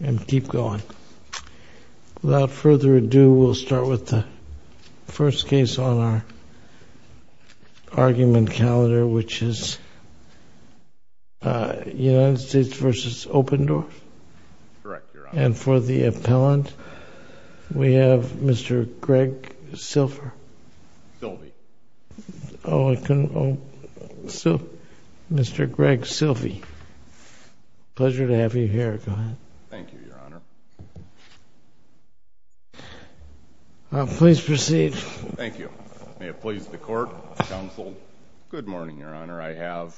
Without further ado, we'll start with the first case on our argument calendar, which is United States v. Obendorf. Correct, Your Honor. And for the appellant, we have Mr. Greg Silver. Silvey. Oh, I couldn't, oh. So, Mr. Greg Silvey. Pleasure to have you here. Go ahead. Thank you, Your Honor. Please proceed. Thank you. May it please the Court, Counsel. Good morning, Your Honor. I have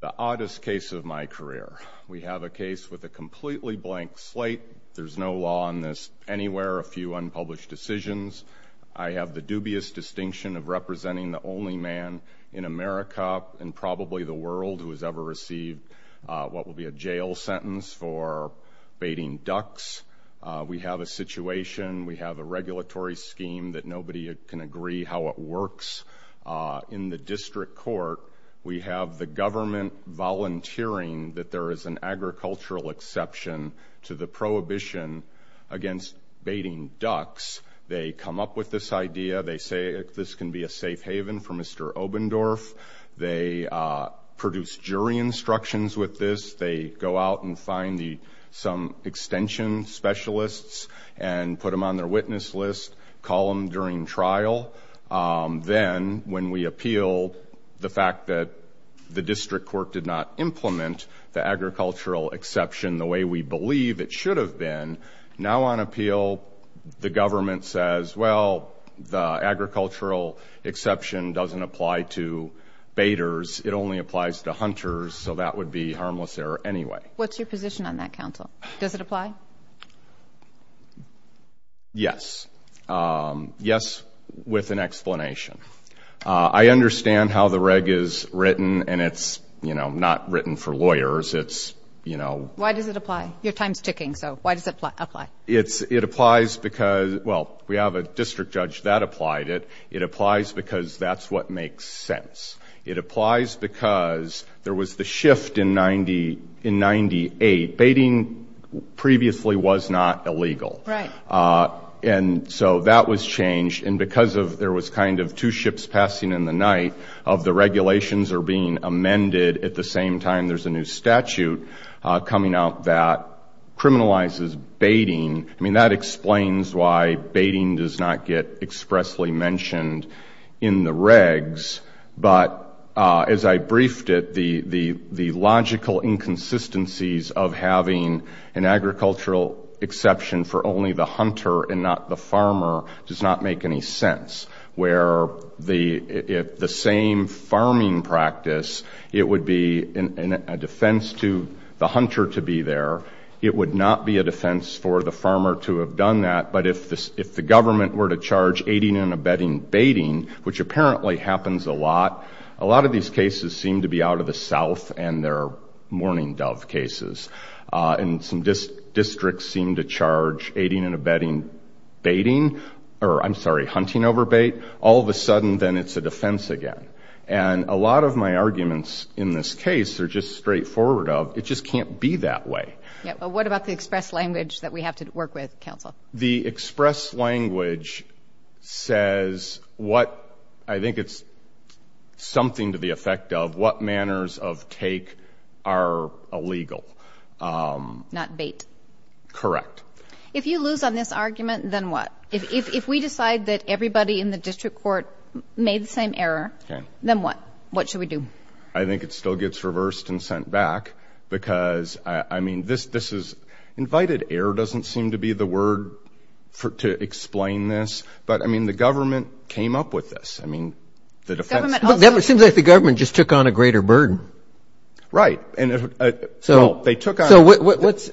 the oddest case of my career. We have a case with a completely blank slate. There's no law on this anywhere, a few unpublished decisions. I have the dubious distinction of representing the only man in America and probably the world who has ever received what will be a jail sentence for baiting ducks. We have a situation, we have a regulatory scheme that nobody can agree how it works. In the district court, we have the government volunteering that there is an agricultural exception to the prohibition against baiting ducks. They come up with this idea. They say this can be a safe haven for Mr. Obendorf. They produce jury instructions with this. They go out and find some extension specialists and put them on their witness list, call them during trial. Then, when we appeal the fact that the district court did not implement the agricultural exception the way we believe it should have been, now on appeal, the government says, well, the agricultural exception doesn't apply to baiters. It only applies to hunters, so that would be harmless error anyway. What's your position on that, Counsel? Does it apply? Yes. Yes, with an explanation. I understand how the reg is written, and it's, you know, not written for lawyers. It's, you know. Why does it apply? Your time's ticking, so why does it apply? It applies because, well, we have a district judge that applied it. It applies because that's what makes sense. It applies because there was the shift in 98. Baiting previously was not illegal. Right. And so that was changed, and because there was kind of two ships passing in the night, the regulations are being amended at the same time there's a new statute coming out that criminalizes baiting. I mean, that explains why baiting does not get expressly mentioned in the regs, but as I briefed it, the logical inconsistencies of having an agricultural exception for only the hunter and not the farmer does not make any sense, where the same farming practice, it would be a defense to the hunter to be there. It would not be a defense for the farmer to have done that, but if the government were to charge aiding and abetting baiting, which apparently happens a lot, a lot of these cases seem to be out of the South, and they're mourning dove cases. And some districts seem to charge aiding and abetting baiting, or I'm sorry, hunting over bait, all of a sudden then it's a defense again. And a lot of my arguments in this case are just straightforward. It just can't be that way. What about the express language that we have to work with, counsel? The express language says what, I think it's something to the effect of what manners of take are illegal. Not bait. Correct. If you lose on this argument, then what? If we decide that everybody in the district court made the same error, then what? What should we do? I think it still gets reversed and sent back because, I mean, this is, invited error doesn't seem to be the word to explain this, but, I mean, the government came up with this. I mean, the defense. It seems like the government just took on a greater burden. Right. No, they took on. So what's...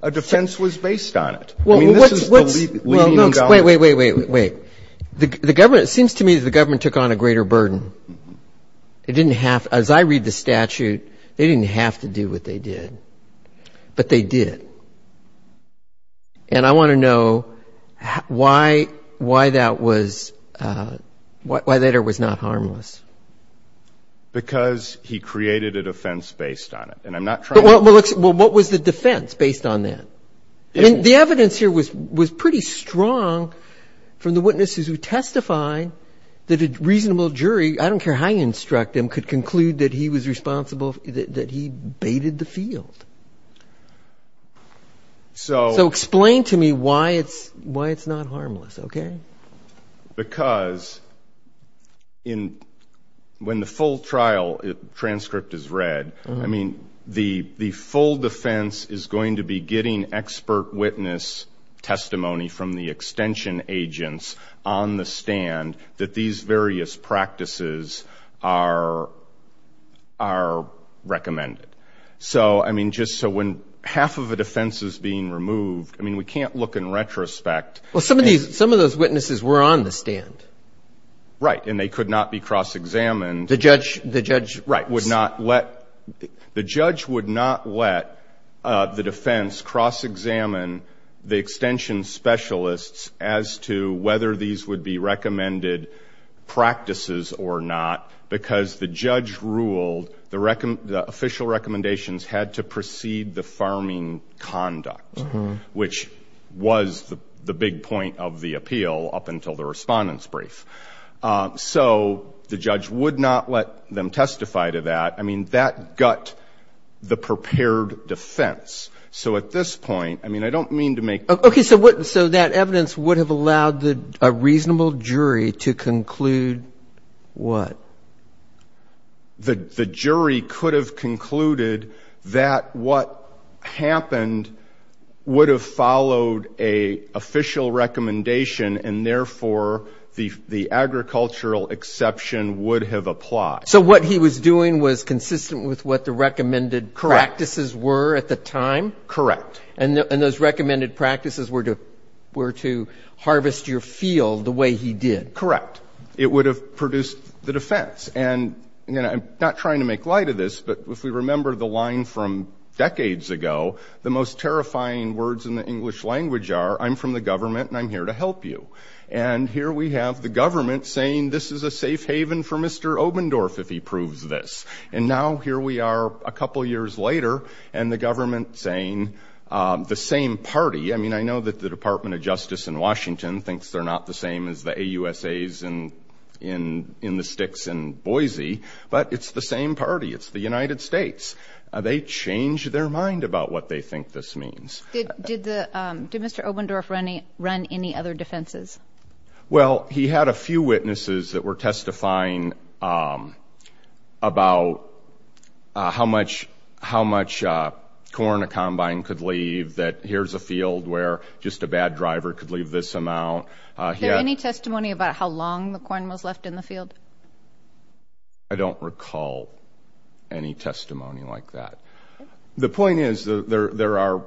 A defense was based on it. I mean, this is the leading endowment. Wait, wait, wait, wait. The government, it seems to me that the government took on a greater burden. It didn't have, as I read the statute, they didn't have to do what they did. But they did. And I want to know why that was, why that error was not harmless. Because he created a defense based on it. And I'm not trying to... Well, what was the defense based on that? I mean, the evidence here was pretty strong from the witnesses who testified that a reasonable jury, I don't care how you instruct him, could conclude that he was So... So explain to me why it's not harmless, okay? Because when the full trial transcript is read, I mean, the full defense is going to be getting expert witness testimony from the extension agents on the stand that these various practices are recommended. So, I mean, just so when half of the defense is being removed, I mean, we can't look in retrospect. Well, some of those witnesses were on the stand. Right. And they could not be cross-examined. The judge... Right, would not let... The judge would not let the defense cross-examine the extension specialists as to whether these would be had to precede the farming conduct, which was the big point of the appeal up until the respondent's brief. So the judge would not let them testify to that. I mean, that gut the prepared defense. So at this point, I mean, I don't mean to make... Okay. So that evidence would have allowed a reasonable jury to conclude what? The jury could have concluded that what happened would have followed a official recommendation, and therefore the agricultural exception would have applied. So what he was doing was consistent with what the recommended practices were at the time? Correct. And those recommended practices were to harvest your field the way he did? Correct. But it would have produced the defense. And I'm not trying to make light of this, but if we remember the line from decades ago, the most terrifying words in the English language are, I'm from the government and I'm here to help you. And here we have the government saying this is a safe haven for Mr. Obendorf if he proves this. And now here we are a couple years later and the government saying the same party. I mean, I know that the Department of Justice in Washington thinks they're not the same as the AUSAs in the sticks in Boise, but it's the same party. It's the United States. They changed their mind about what they think this means. Did Mr. Obendorf run any other defenses? Well, he had a few witnesses that were testifying about how much corn a combine could leave, that here's a field where just a bad driver could leave this amount. Is there any testimony about how long the corn was left in the field? I don't recall any testimony like that. The point is there are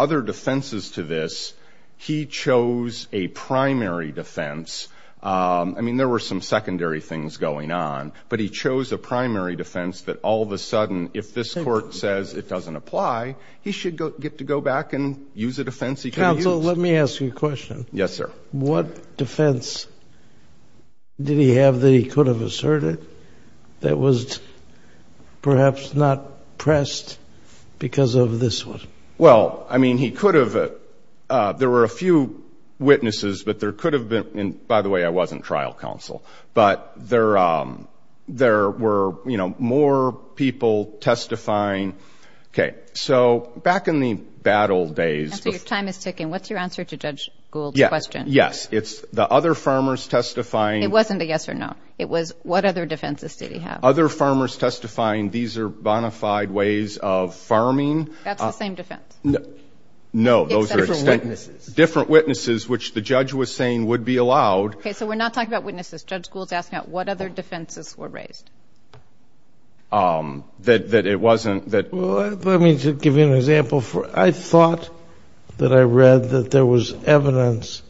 other defenses to this. He chose a primary defense. I mean, there were some secondary things going on, but he chose a primary defense that all of a sudden if this court says it doesn't apply, he should get to go back and use a defense he could have used. Counsel, let me ask you a question. Yes, sir. What defense did he have that he could have asserted that was perhaps not pressed because of this one? Well, I mean, he could have. There were a few witnesses, but there could have been. By the way, I wasn't trial counsel. But there were, you know, more people testifying. Okay. So back in the bad old days. Counsel, your time is ticking. What's your answer to Judge Gould's question? Yes. It's the other farmers testifying. It wasn't a yes or no. It was what other defenses did he have? Other farmers testifying, these are bona fide ways of farming. That's the same defense. No, those are distinct. Different witnesses. Different witnesses, which the judge was saying would be allowed. Okay. So we're not talking about witnesses. Judge Gould's asking about what other defenses were raised. That it wasn't that. Well, let me give you an example. I thought that I read that there was evidence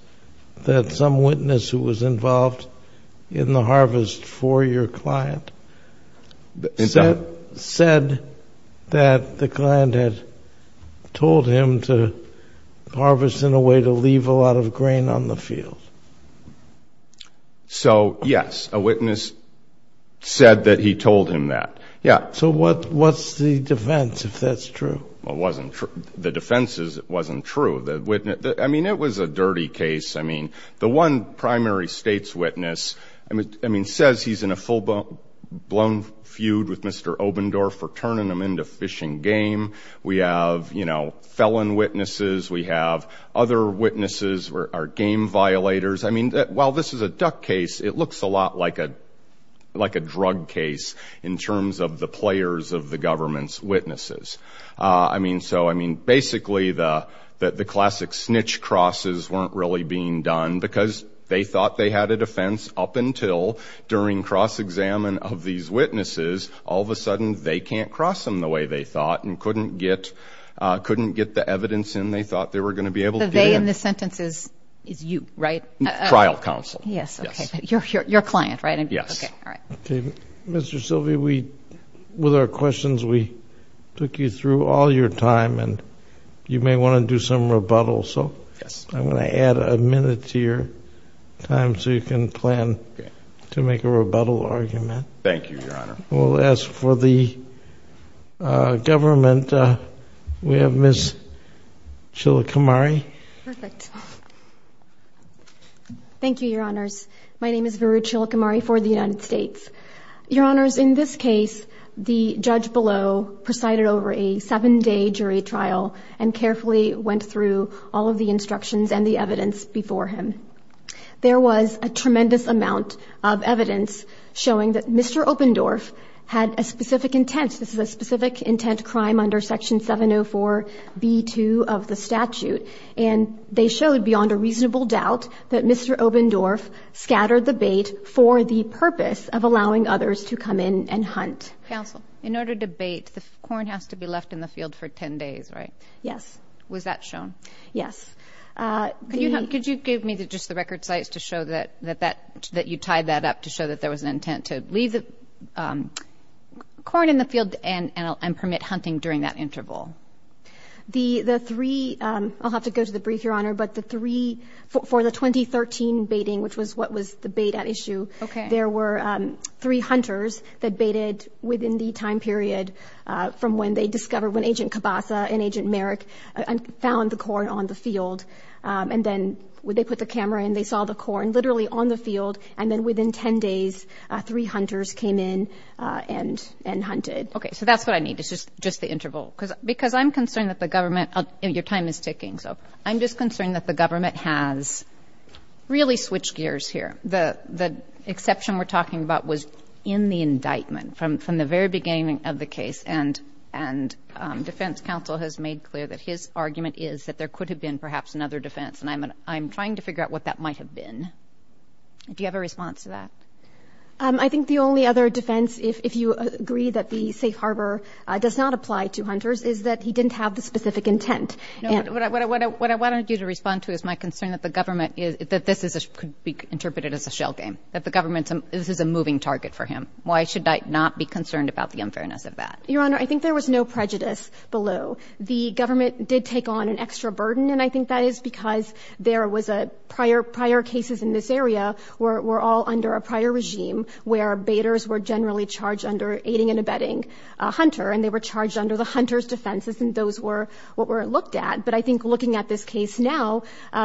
that some witness who was involved in the harvest for your client said that the client had told him to harvest in a way to leave a lot of grain on the field. So, yes, a witness said that he told him that. Yeah. So what's the defense, if that's true? Well, it wasn't true. The defense wasn't true. I mean, it was a dirty case. I mean, the one primary state's witness, I mean, says he's in a full-blown feud with Mr. Obendorf for turning him into fishing game. We have, you know, felon witnesses. We have other witnesses who are game violators. I mean, while this is a duck case, it looks a lot like a drug case in terms of the players of the government's witnesses. I mean, so, I mean, basically the classic snitch crosses weren't really being done because they thought they had a defense up until during cross-examine of these witnesses. All of a sudden, they can't cross them the way they thought and couldn't get the evidence in they thought they were going to be able to get in. The they in this sentence is you, right? Trial counsel. Yes. Okay. Your client, right? Yes. Okay. All right. Okay. Mr. Silvey, with our questions, we took you through all your time, and you may want to do some rebuttal. So I'm going to add a minute to your time so you can plan to make a rebuttal argument. Thank you, Your Honor. We'll ask for the government. We have Ms. Chilakamari. Perfect. Thank you, Your Honors. My name is Varu Chilakamari for the United States. Your Honors, in this case, the judge below presided over a seven-day jury trial and carefully went through all of the instructions and the evidence before him. There was a tremendous amount of evidence showing that Mr. Opendorf had a specific intent. This is a specific intent crime under Section 704B2 of the statute. And they showed beyond a reasonable doubt that Mr. Opendorf scattered the bait for the purpose of allowing others to come in and hunt. Counsel, in order to bait, the corn has to be left in the field for 10 days, right? Yes. Was that shown? Yes. Could you give me just the record sites to show that you tied that up to show that there was an intent to leave the corn in the field and permit hunting during that interval? The three – I'll have to go to the brief, Your Honor, but the three – for the 2013 baiting, which was what was the bait at issue, there were three hunters that baited within the time period from when they discovered when Agent Cabasa and Agent Merrick found the corn on the field. And then they put the camera in. They saw the corn literally on the field. And then within 10 days, three hunters came in and hunted. Okay. So that's what I need, just the interval. Because I'm concerned that the government – your time is ticking. So I'm just concerned that the government has really switched gears here. The exception we're talking about was in the indictment from the very beginning of the case. And defense counsel has made clear that his argument is that there could have been perhaps another defense. And I'm trying to figure out what that might have been. Do you have a response to that? I think the only other defense, if you agree that the safe harbor does not apply to hunters, is that he didn't have the specific intent. What I wanted you to respond to is my concern that the government is – that this could be interpreted as a shell game, that the government – this is a moving target for him. Why should I not be concerned about the unfairness of that? Your Honor, I think there was no prejudice below. The government did take on an extra burden, and I think that is because there was a – prior cases in this area were all under a prior regime where baiters were generally charged under aiding and abetting a hunter, and they were charged under the hunter's defenses, and those were what were looked at. But I think looking at this case now,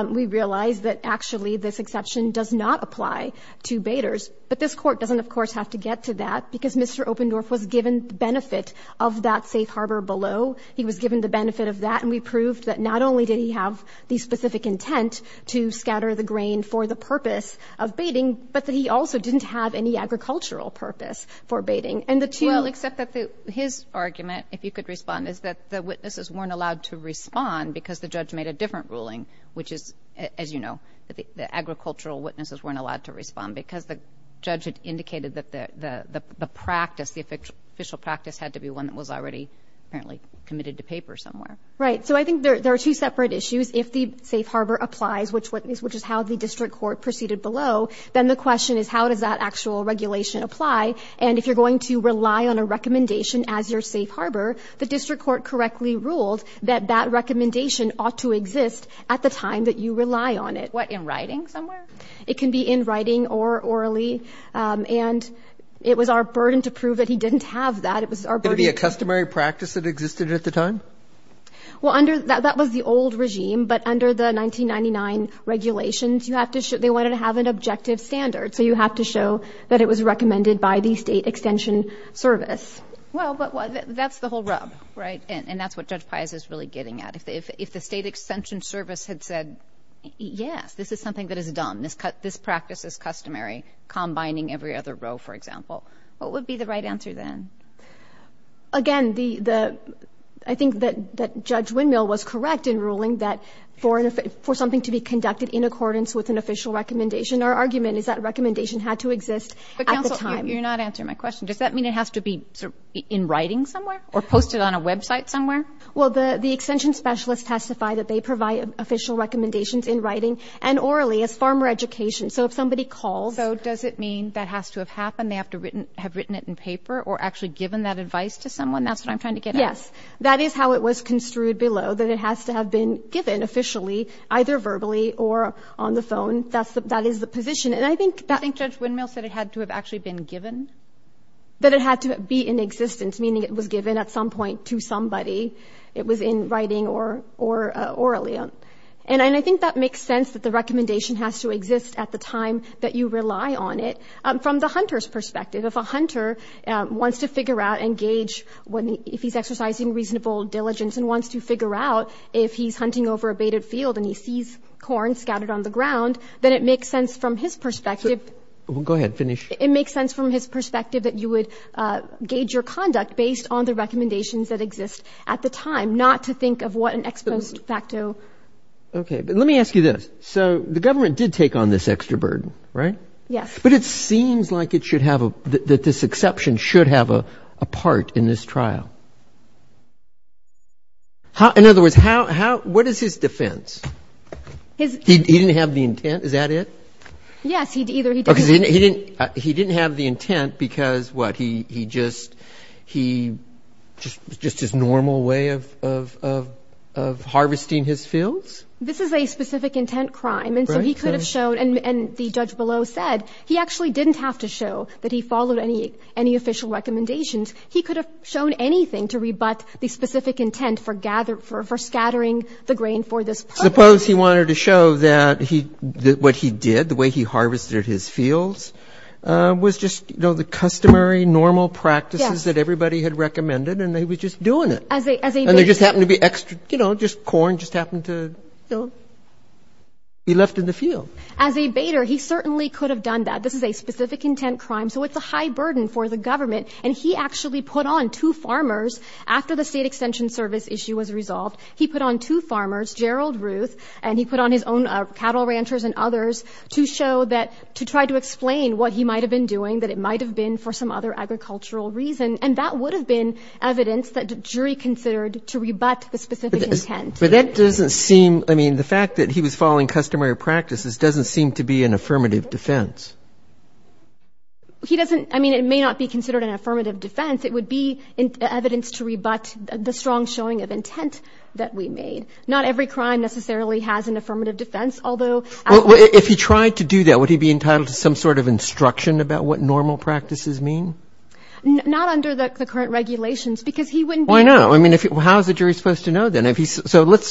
we realize that actually this exception does not apply to baiters. But this Court doesn't, of course, have to get to that, because Mr. Opendorf was given the benefit of that safe harbor below. He was given the benefit of that, and we proved that not only did he have the specific intent to scatter the grain for the purpose of baiting, but that he also didn't have any agricultural purpose for baiting. Well, except that his argument, if you could respond, is that the witnesses weren't allowed to respond because the judge made a different ruling, which is, as you know, that the agricultural witnesses weren't allowed to respond because the judge had indicated that the practice, the official practice, had to be one that was already apparently committed to paper somewhere. Right. So I think there are two separate issues. If the safe harbor applies, which is how the District Court proceeded below, then the question is how does that actual regulation apply? And if you're going to rely on a recommendation as your safe harbor, the District Court correctly ruled that that recommendation ought to exist at the time that you rely on it. What, in writing somewhere? It can be in writing or orally. And it was our burden to prove that he didn't have that. It was our burden to prove that. Could it be a customary practice that existed at the time? Well, that was the old regime, but under the 1999 regulations, you have to show they wanted to have an objective standard. So you have to show that it was recommended by the State Extension Service. Well, but that's the whole rub, right? And that's what Judge Pius is really getting at. If the State Extension Service had said, yes, this is something that is dumb, this practice is customary, combining every other row, for example, what would be the right answer then? Again, the the I think that Judge Windmill was correct in ruling that for something to be conducted in accordance with an official recommendation, our argument is that recommendation had to exist at the time. But, counsel, you're not answering my question. Does that mean it has to be in writing somewhere or posted on a website somewhere? Well, the Extension specialists testify that they provide official recommendations in writing and orally as farmer education. So if somebody calls. So does it mean that has to have happened? They have to have written it in paper or actually given that advice to someone? That's what I'm trying to get at. Yes. That is how it was construed below, that it has to have been given officially, either verbally or on the phone. That is the position. And I think that. I think Judge Windmill said it had to have actually been given. That it had to be in existence, meaning it was given at some point to somebody. It was in writing or orally. And I think that makes sense that the recommendation has to exist at the time that you rely on it. From the hunter's perspective, if a hunter wants to figure out and gauge if he's exercising reasonable diligence and wants to figure out if he's hunting over a baited field and he sees corn scattered on the ground, then it makes sense from his perspective. Go ahead. Finish. It makes sense from his perspective that you would gauge your conduct based on the recommendations that exist at the time, not to think of what an ex post facto. Okay. But let me ask you this. So the government did take on this extra burden, right? Yes. But it seems like it should have, that this exception should have a part in this trial. In other words, what is his defense? He didn't have the intent. Is that it? Yes. He didn't have the intent because, what, he just his normal way of harvesting his fields? This is a specific intent crime. And so he could have shown, and the judge below said, he actually didn't have to show that he followed any official recommendations. He could have shown anything to rebut the specific intent for scattering the grain for this purpose. Suppose he wanted to show that what he did, the way he harvested his fields, was just, you know, the customary normal practices that everybody had recommended and he was just doing it. As a baiter. And there just happened to be extra, you know, just corn just happened to be left in the field. As a baiter, he certainly could have done that. This is a specific intent crime. So it's a high burden for the government. And he actually put on two farmers after the State Extension Service issue was resolved, he put on two farmers, Gerald Ruth and he put on his own cattle ranchers and others, to show that to try to explain what he might have been doing, that it might have been for some other agricultural reason. And that would have been evidence that the jury considered to rebut the specific intent. But that doesn't seem, I mean, the fact that he was following customary practices doesn't seem to be an affirmative defense. He doesn't, I mean, it may not be considered an affirmative defense. It would be evidence to rebut the strong showing of intent that we made. Not every crime necessarily has an affirmative defense, although. Well, if he tried to do that, would he be entitled to some sort of instruction about what normal practices mean? Not under the current regulations, because he wouldn't be. Why not? I mean, how is the jury supposed to know then? So let's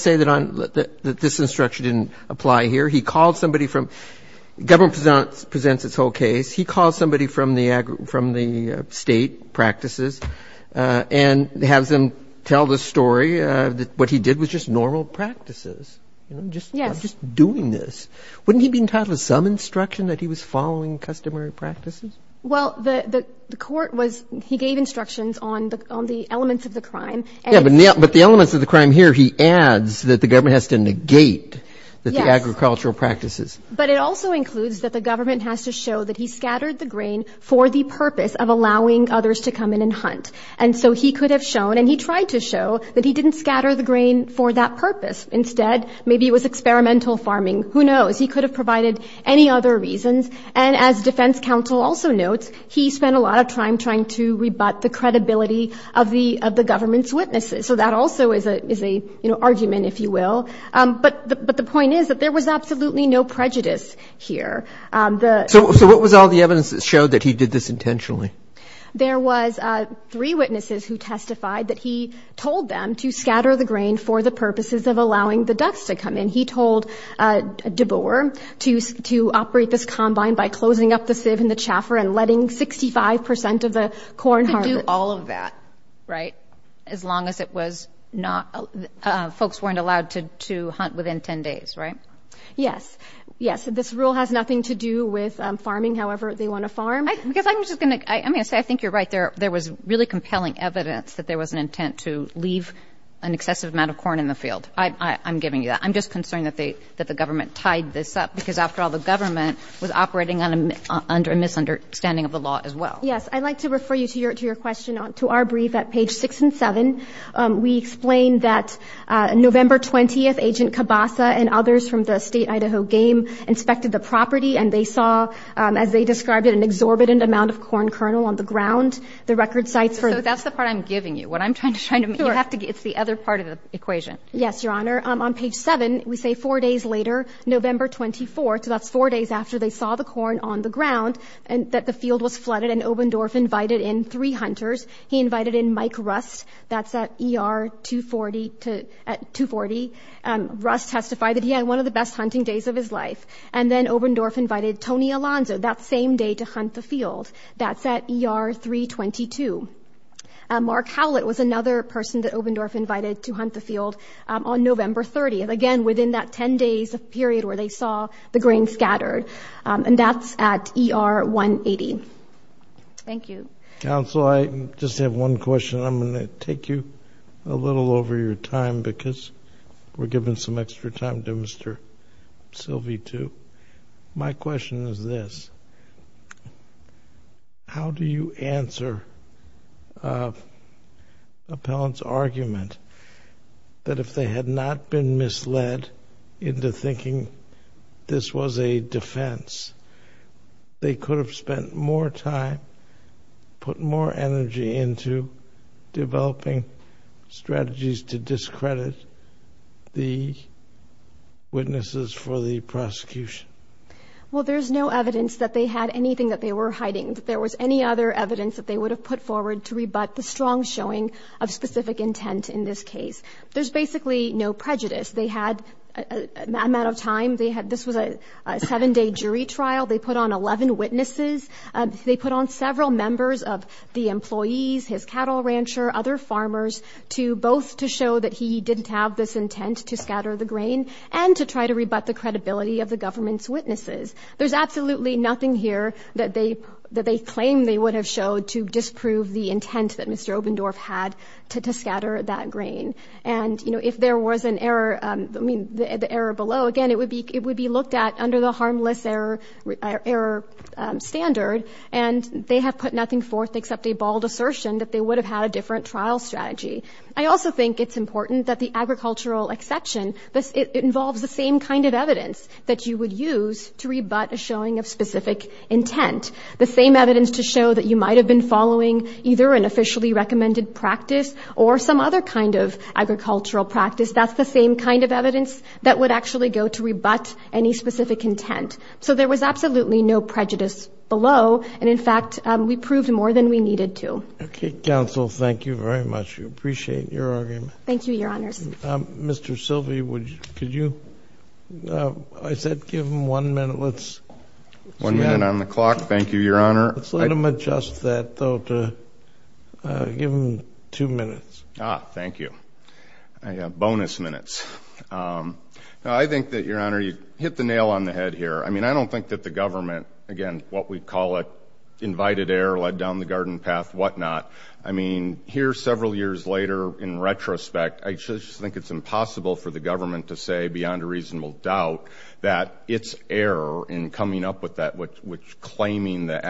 say that this instruction didn't apply here. He calls somebody from, the government presents its whole case. He calls somebody from the state practices and has them tell the story that what he did was just normal practices. Yes. Just doing this. Wouldn't he be entitled to some instruction that he was following customary practices? Well, the court was, he gave instructions on the elements of the crime. Yeah, but the elements of the crime here, that the government has to negate the agricultural practices. But it also includes that the government has to show that he scattered the grain for the purpose of allowing others to come in and hunt. And so he could have shown, and he tried to show, that he didn't scatter the grain for that purpose. Instead, maybe it was experimental farming. Who knows? He could have provided any other reasons. And as defense counsel also notes, he spent a lot of time trying to rebut the credibility of the government's witnesses. So that also is a, you know, argument, if you will. But the point is that there was absolutely no prejudice here. So what was all the evidence that showed that he did this intentionally? There was three witnesses who testified that he told them to scatter the grain for the purposes of allowing the ducks to come in. He told DeBoer to operate this combine by closing up the sieve in the chaffer and letting 65 percent of the corn harvest. Right? As long as it was not, folks weren't allowed to hunt within 10 days, right? Yes. Yes. This rule has nothing to do with farming however they want to farm. Because I'm just going to say I think you're right. There was really compelling evidence that there was an intent to leave an excessive amount of corn in the field. I'm giving you that. I'm just concerned that the government tied this up because, after all, the government was operating under a misunderstanding of the law as well. Yes. I'd like to refer you to your question to our brief at page 6 and 7. We explain that November 20th, Agent Cabasa and others from the state Idaho game inspected the property, and they saw, as they described it, an exorbitant amount of corn kernel on the ground. The record sites for the – So that's the part I'm giving you. What I'm trying to – Sure. It's the other part of the equation. Yes, Your Honor. On page 7, we say four days later, November 24th, so that's four days after they saw the corn on the ground, that the field was flooded, and Obendorf invited in three hunters. He invited in Mike Rust. That's at ER 240. Rust testified that he had one of the best hunting days of his life. And then Obendorf invited Tony Alonzo that same day to hunt the field. That's at ER 322. Mark Howlett was another person that Obendorf invited to hunt the field on November 30th, again, within that 10 days period where they saw the grain scattered. And that's at ER 180. Thank you. Counsel, I just have one question. I'm going to take you a little over your time because we're giving some extra time to Mr. Silvey, too. My question is this. How do you answer an appellant's argument that if they had not been misled into thinking this was a defense, they could have spent more time, put more energy into developing strategies to discredit the witnesses for the prosecution? Well, there's no evidence that they had anything that they were hiding. There was any other evidence that they would have put forward to rebut the strong showing of specific intent in this case. There's basically no prejudice. They had an amount of time. This was a seven-day jury trial. They put on 11 witnesses. They put on several members of the employees, his cattle rancher, other farmers, both to show that he didn't have this intent to scatter the grain and to try to rebut the credibility of the government's witnesses. There's absolutely nothing here that they claim they would have showed to disprove the intent that Mr. Obendorf had to scatter that grain. And, you know, if there was an error, I mean, the error below, again, it would be looked at under the harmless error standard, and they have put nothing forth except a bald assertion that they would have had a different trial strategy. I also think it's important that the agricultural exception involves the same kind of evidence that you would use to rebut a showing of specific intent, the same evidence to show that you might have been following either an officially recommended practice or some other kind of agricultural practice. That's the same kind of evidence that would actually go to rebut any specific intent. So there was absolutely no prejudice below, and, in fact, we proved more than we needed to. Okay. Counsel, thank you very much. We appreciate your argument. Thank you, Your Honor. Mr. Silvey, could you, I said give him one minute. Let's see that. One minute on the clock. Thank you, Your Honor. Let's let him adjust that, though, to give him two minutes. Ah, thank you. I have bonus minutes. I think that, Your Honor, you hit the nail on the head here. I mean, I don't think that the government, again, what we call it, invited error, led down the garden path, whatnot. I mean, here several years later, in retrospect, I just think it's impossible for the government to say, beyond a reasonable doubt, that its error in coming up with that which claiming the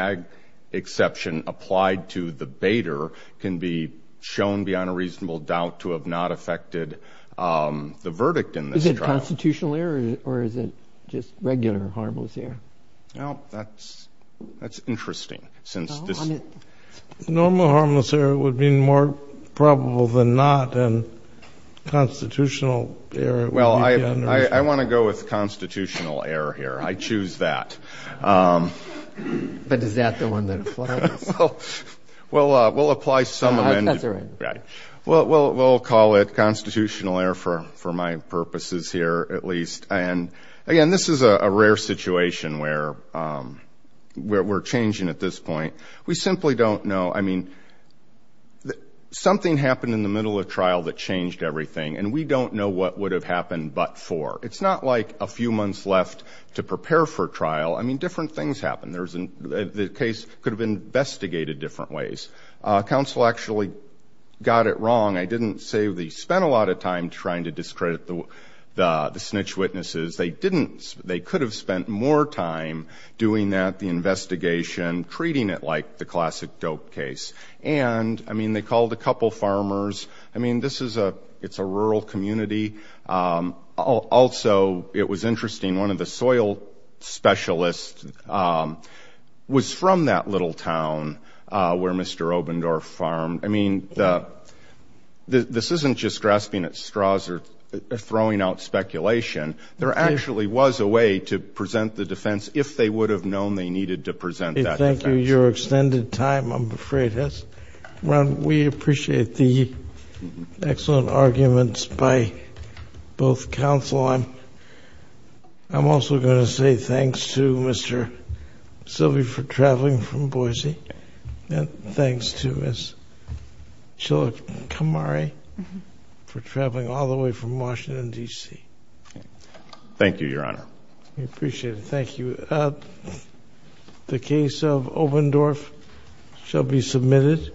exception applied to the baiter can be shown, beyond a reasonable doubt, to have not affected the verdict in this trial. Is it constitutional error, or is it just regular harmless error? Well, that's interesting. Normal harmless error would mean more probable than not, and constitutional error would be the unreasonable. Well, I want to go with constitutional error here. I choose that. But is that the one that applies? Well, we'll apply some amendment. I'll pass it around. Right. We'll call it constitutional error, for my purposes here, at least. Again, this is a rare situation where we're changing at this point. We simply don't know. I mean, something happened in the middle of trial that changed everything, and we don't know what would have happened but for. It's not like a few months left to prepare for trial. I mean, different things happened. The case could have been investigated different ways. Counsel actually got it wrong. I didn't say they spent a lot of time trying to discredit the snitch witnesses. They could have spent more time doing that, the investigation, treating it like the classic dope case. And, I mean, they called a couple farmers. I mean, it's a rural community. Also, it was interesting, one of the soil specialists was from that little town where Mr. Obendorf farmed. I mean, this isn't just grasping at straws or throwing out speculation. There actually was a way to present the defense if they would have known they needed to present that defense. Thank you. Your extended time, I'm afraid, has run. We appreciate the excellent arguments by both counsel. I'm also going to say thanks to Mr. Silvey for traveling from Boise, and thanks to Ms. Chilakamari for traveling all the way from Washington, D.C. Thank you, Your Honor. We appreciate it. Thank you. The case of Obendorf shall be submitted.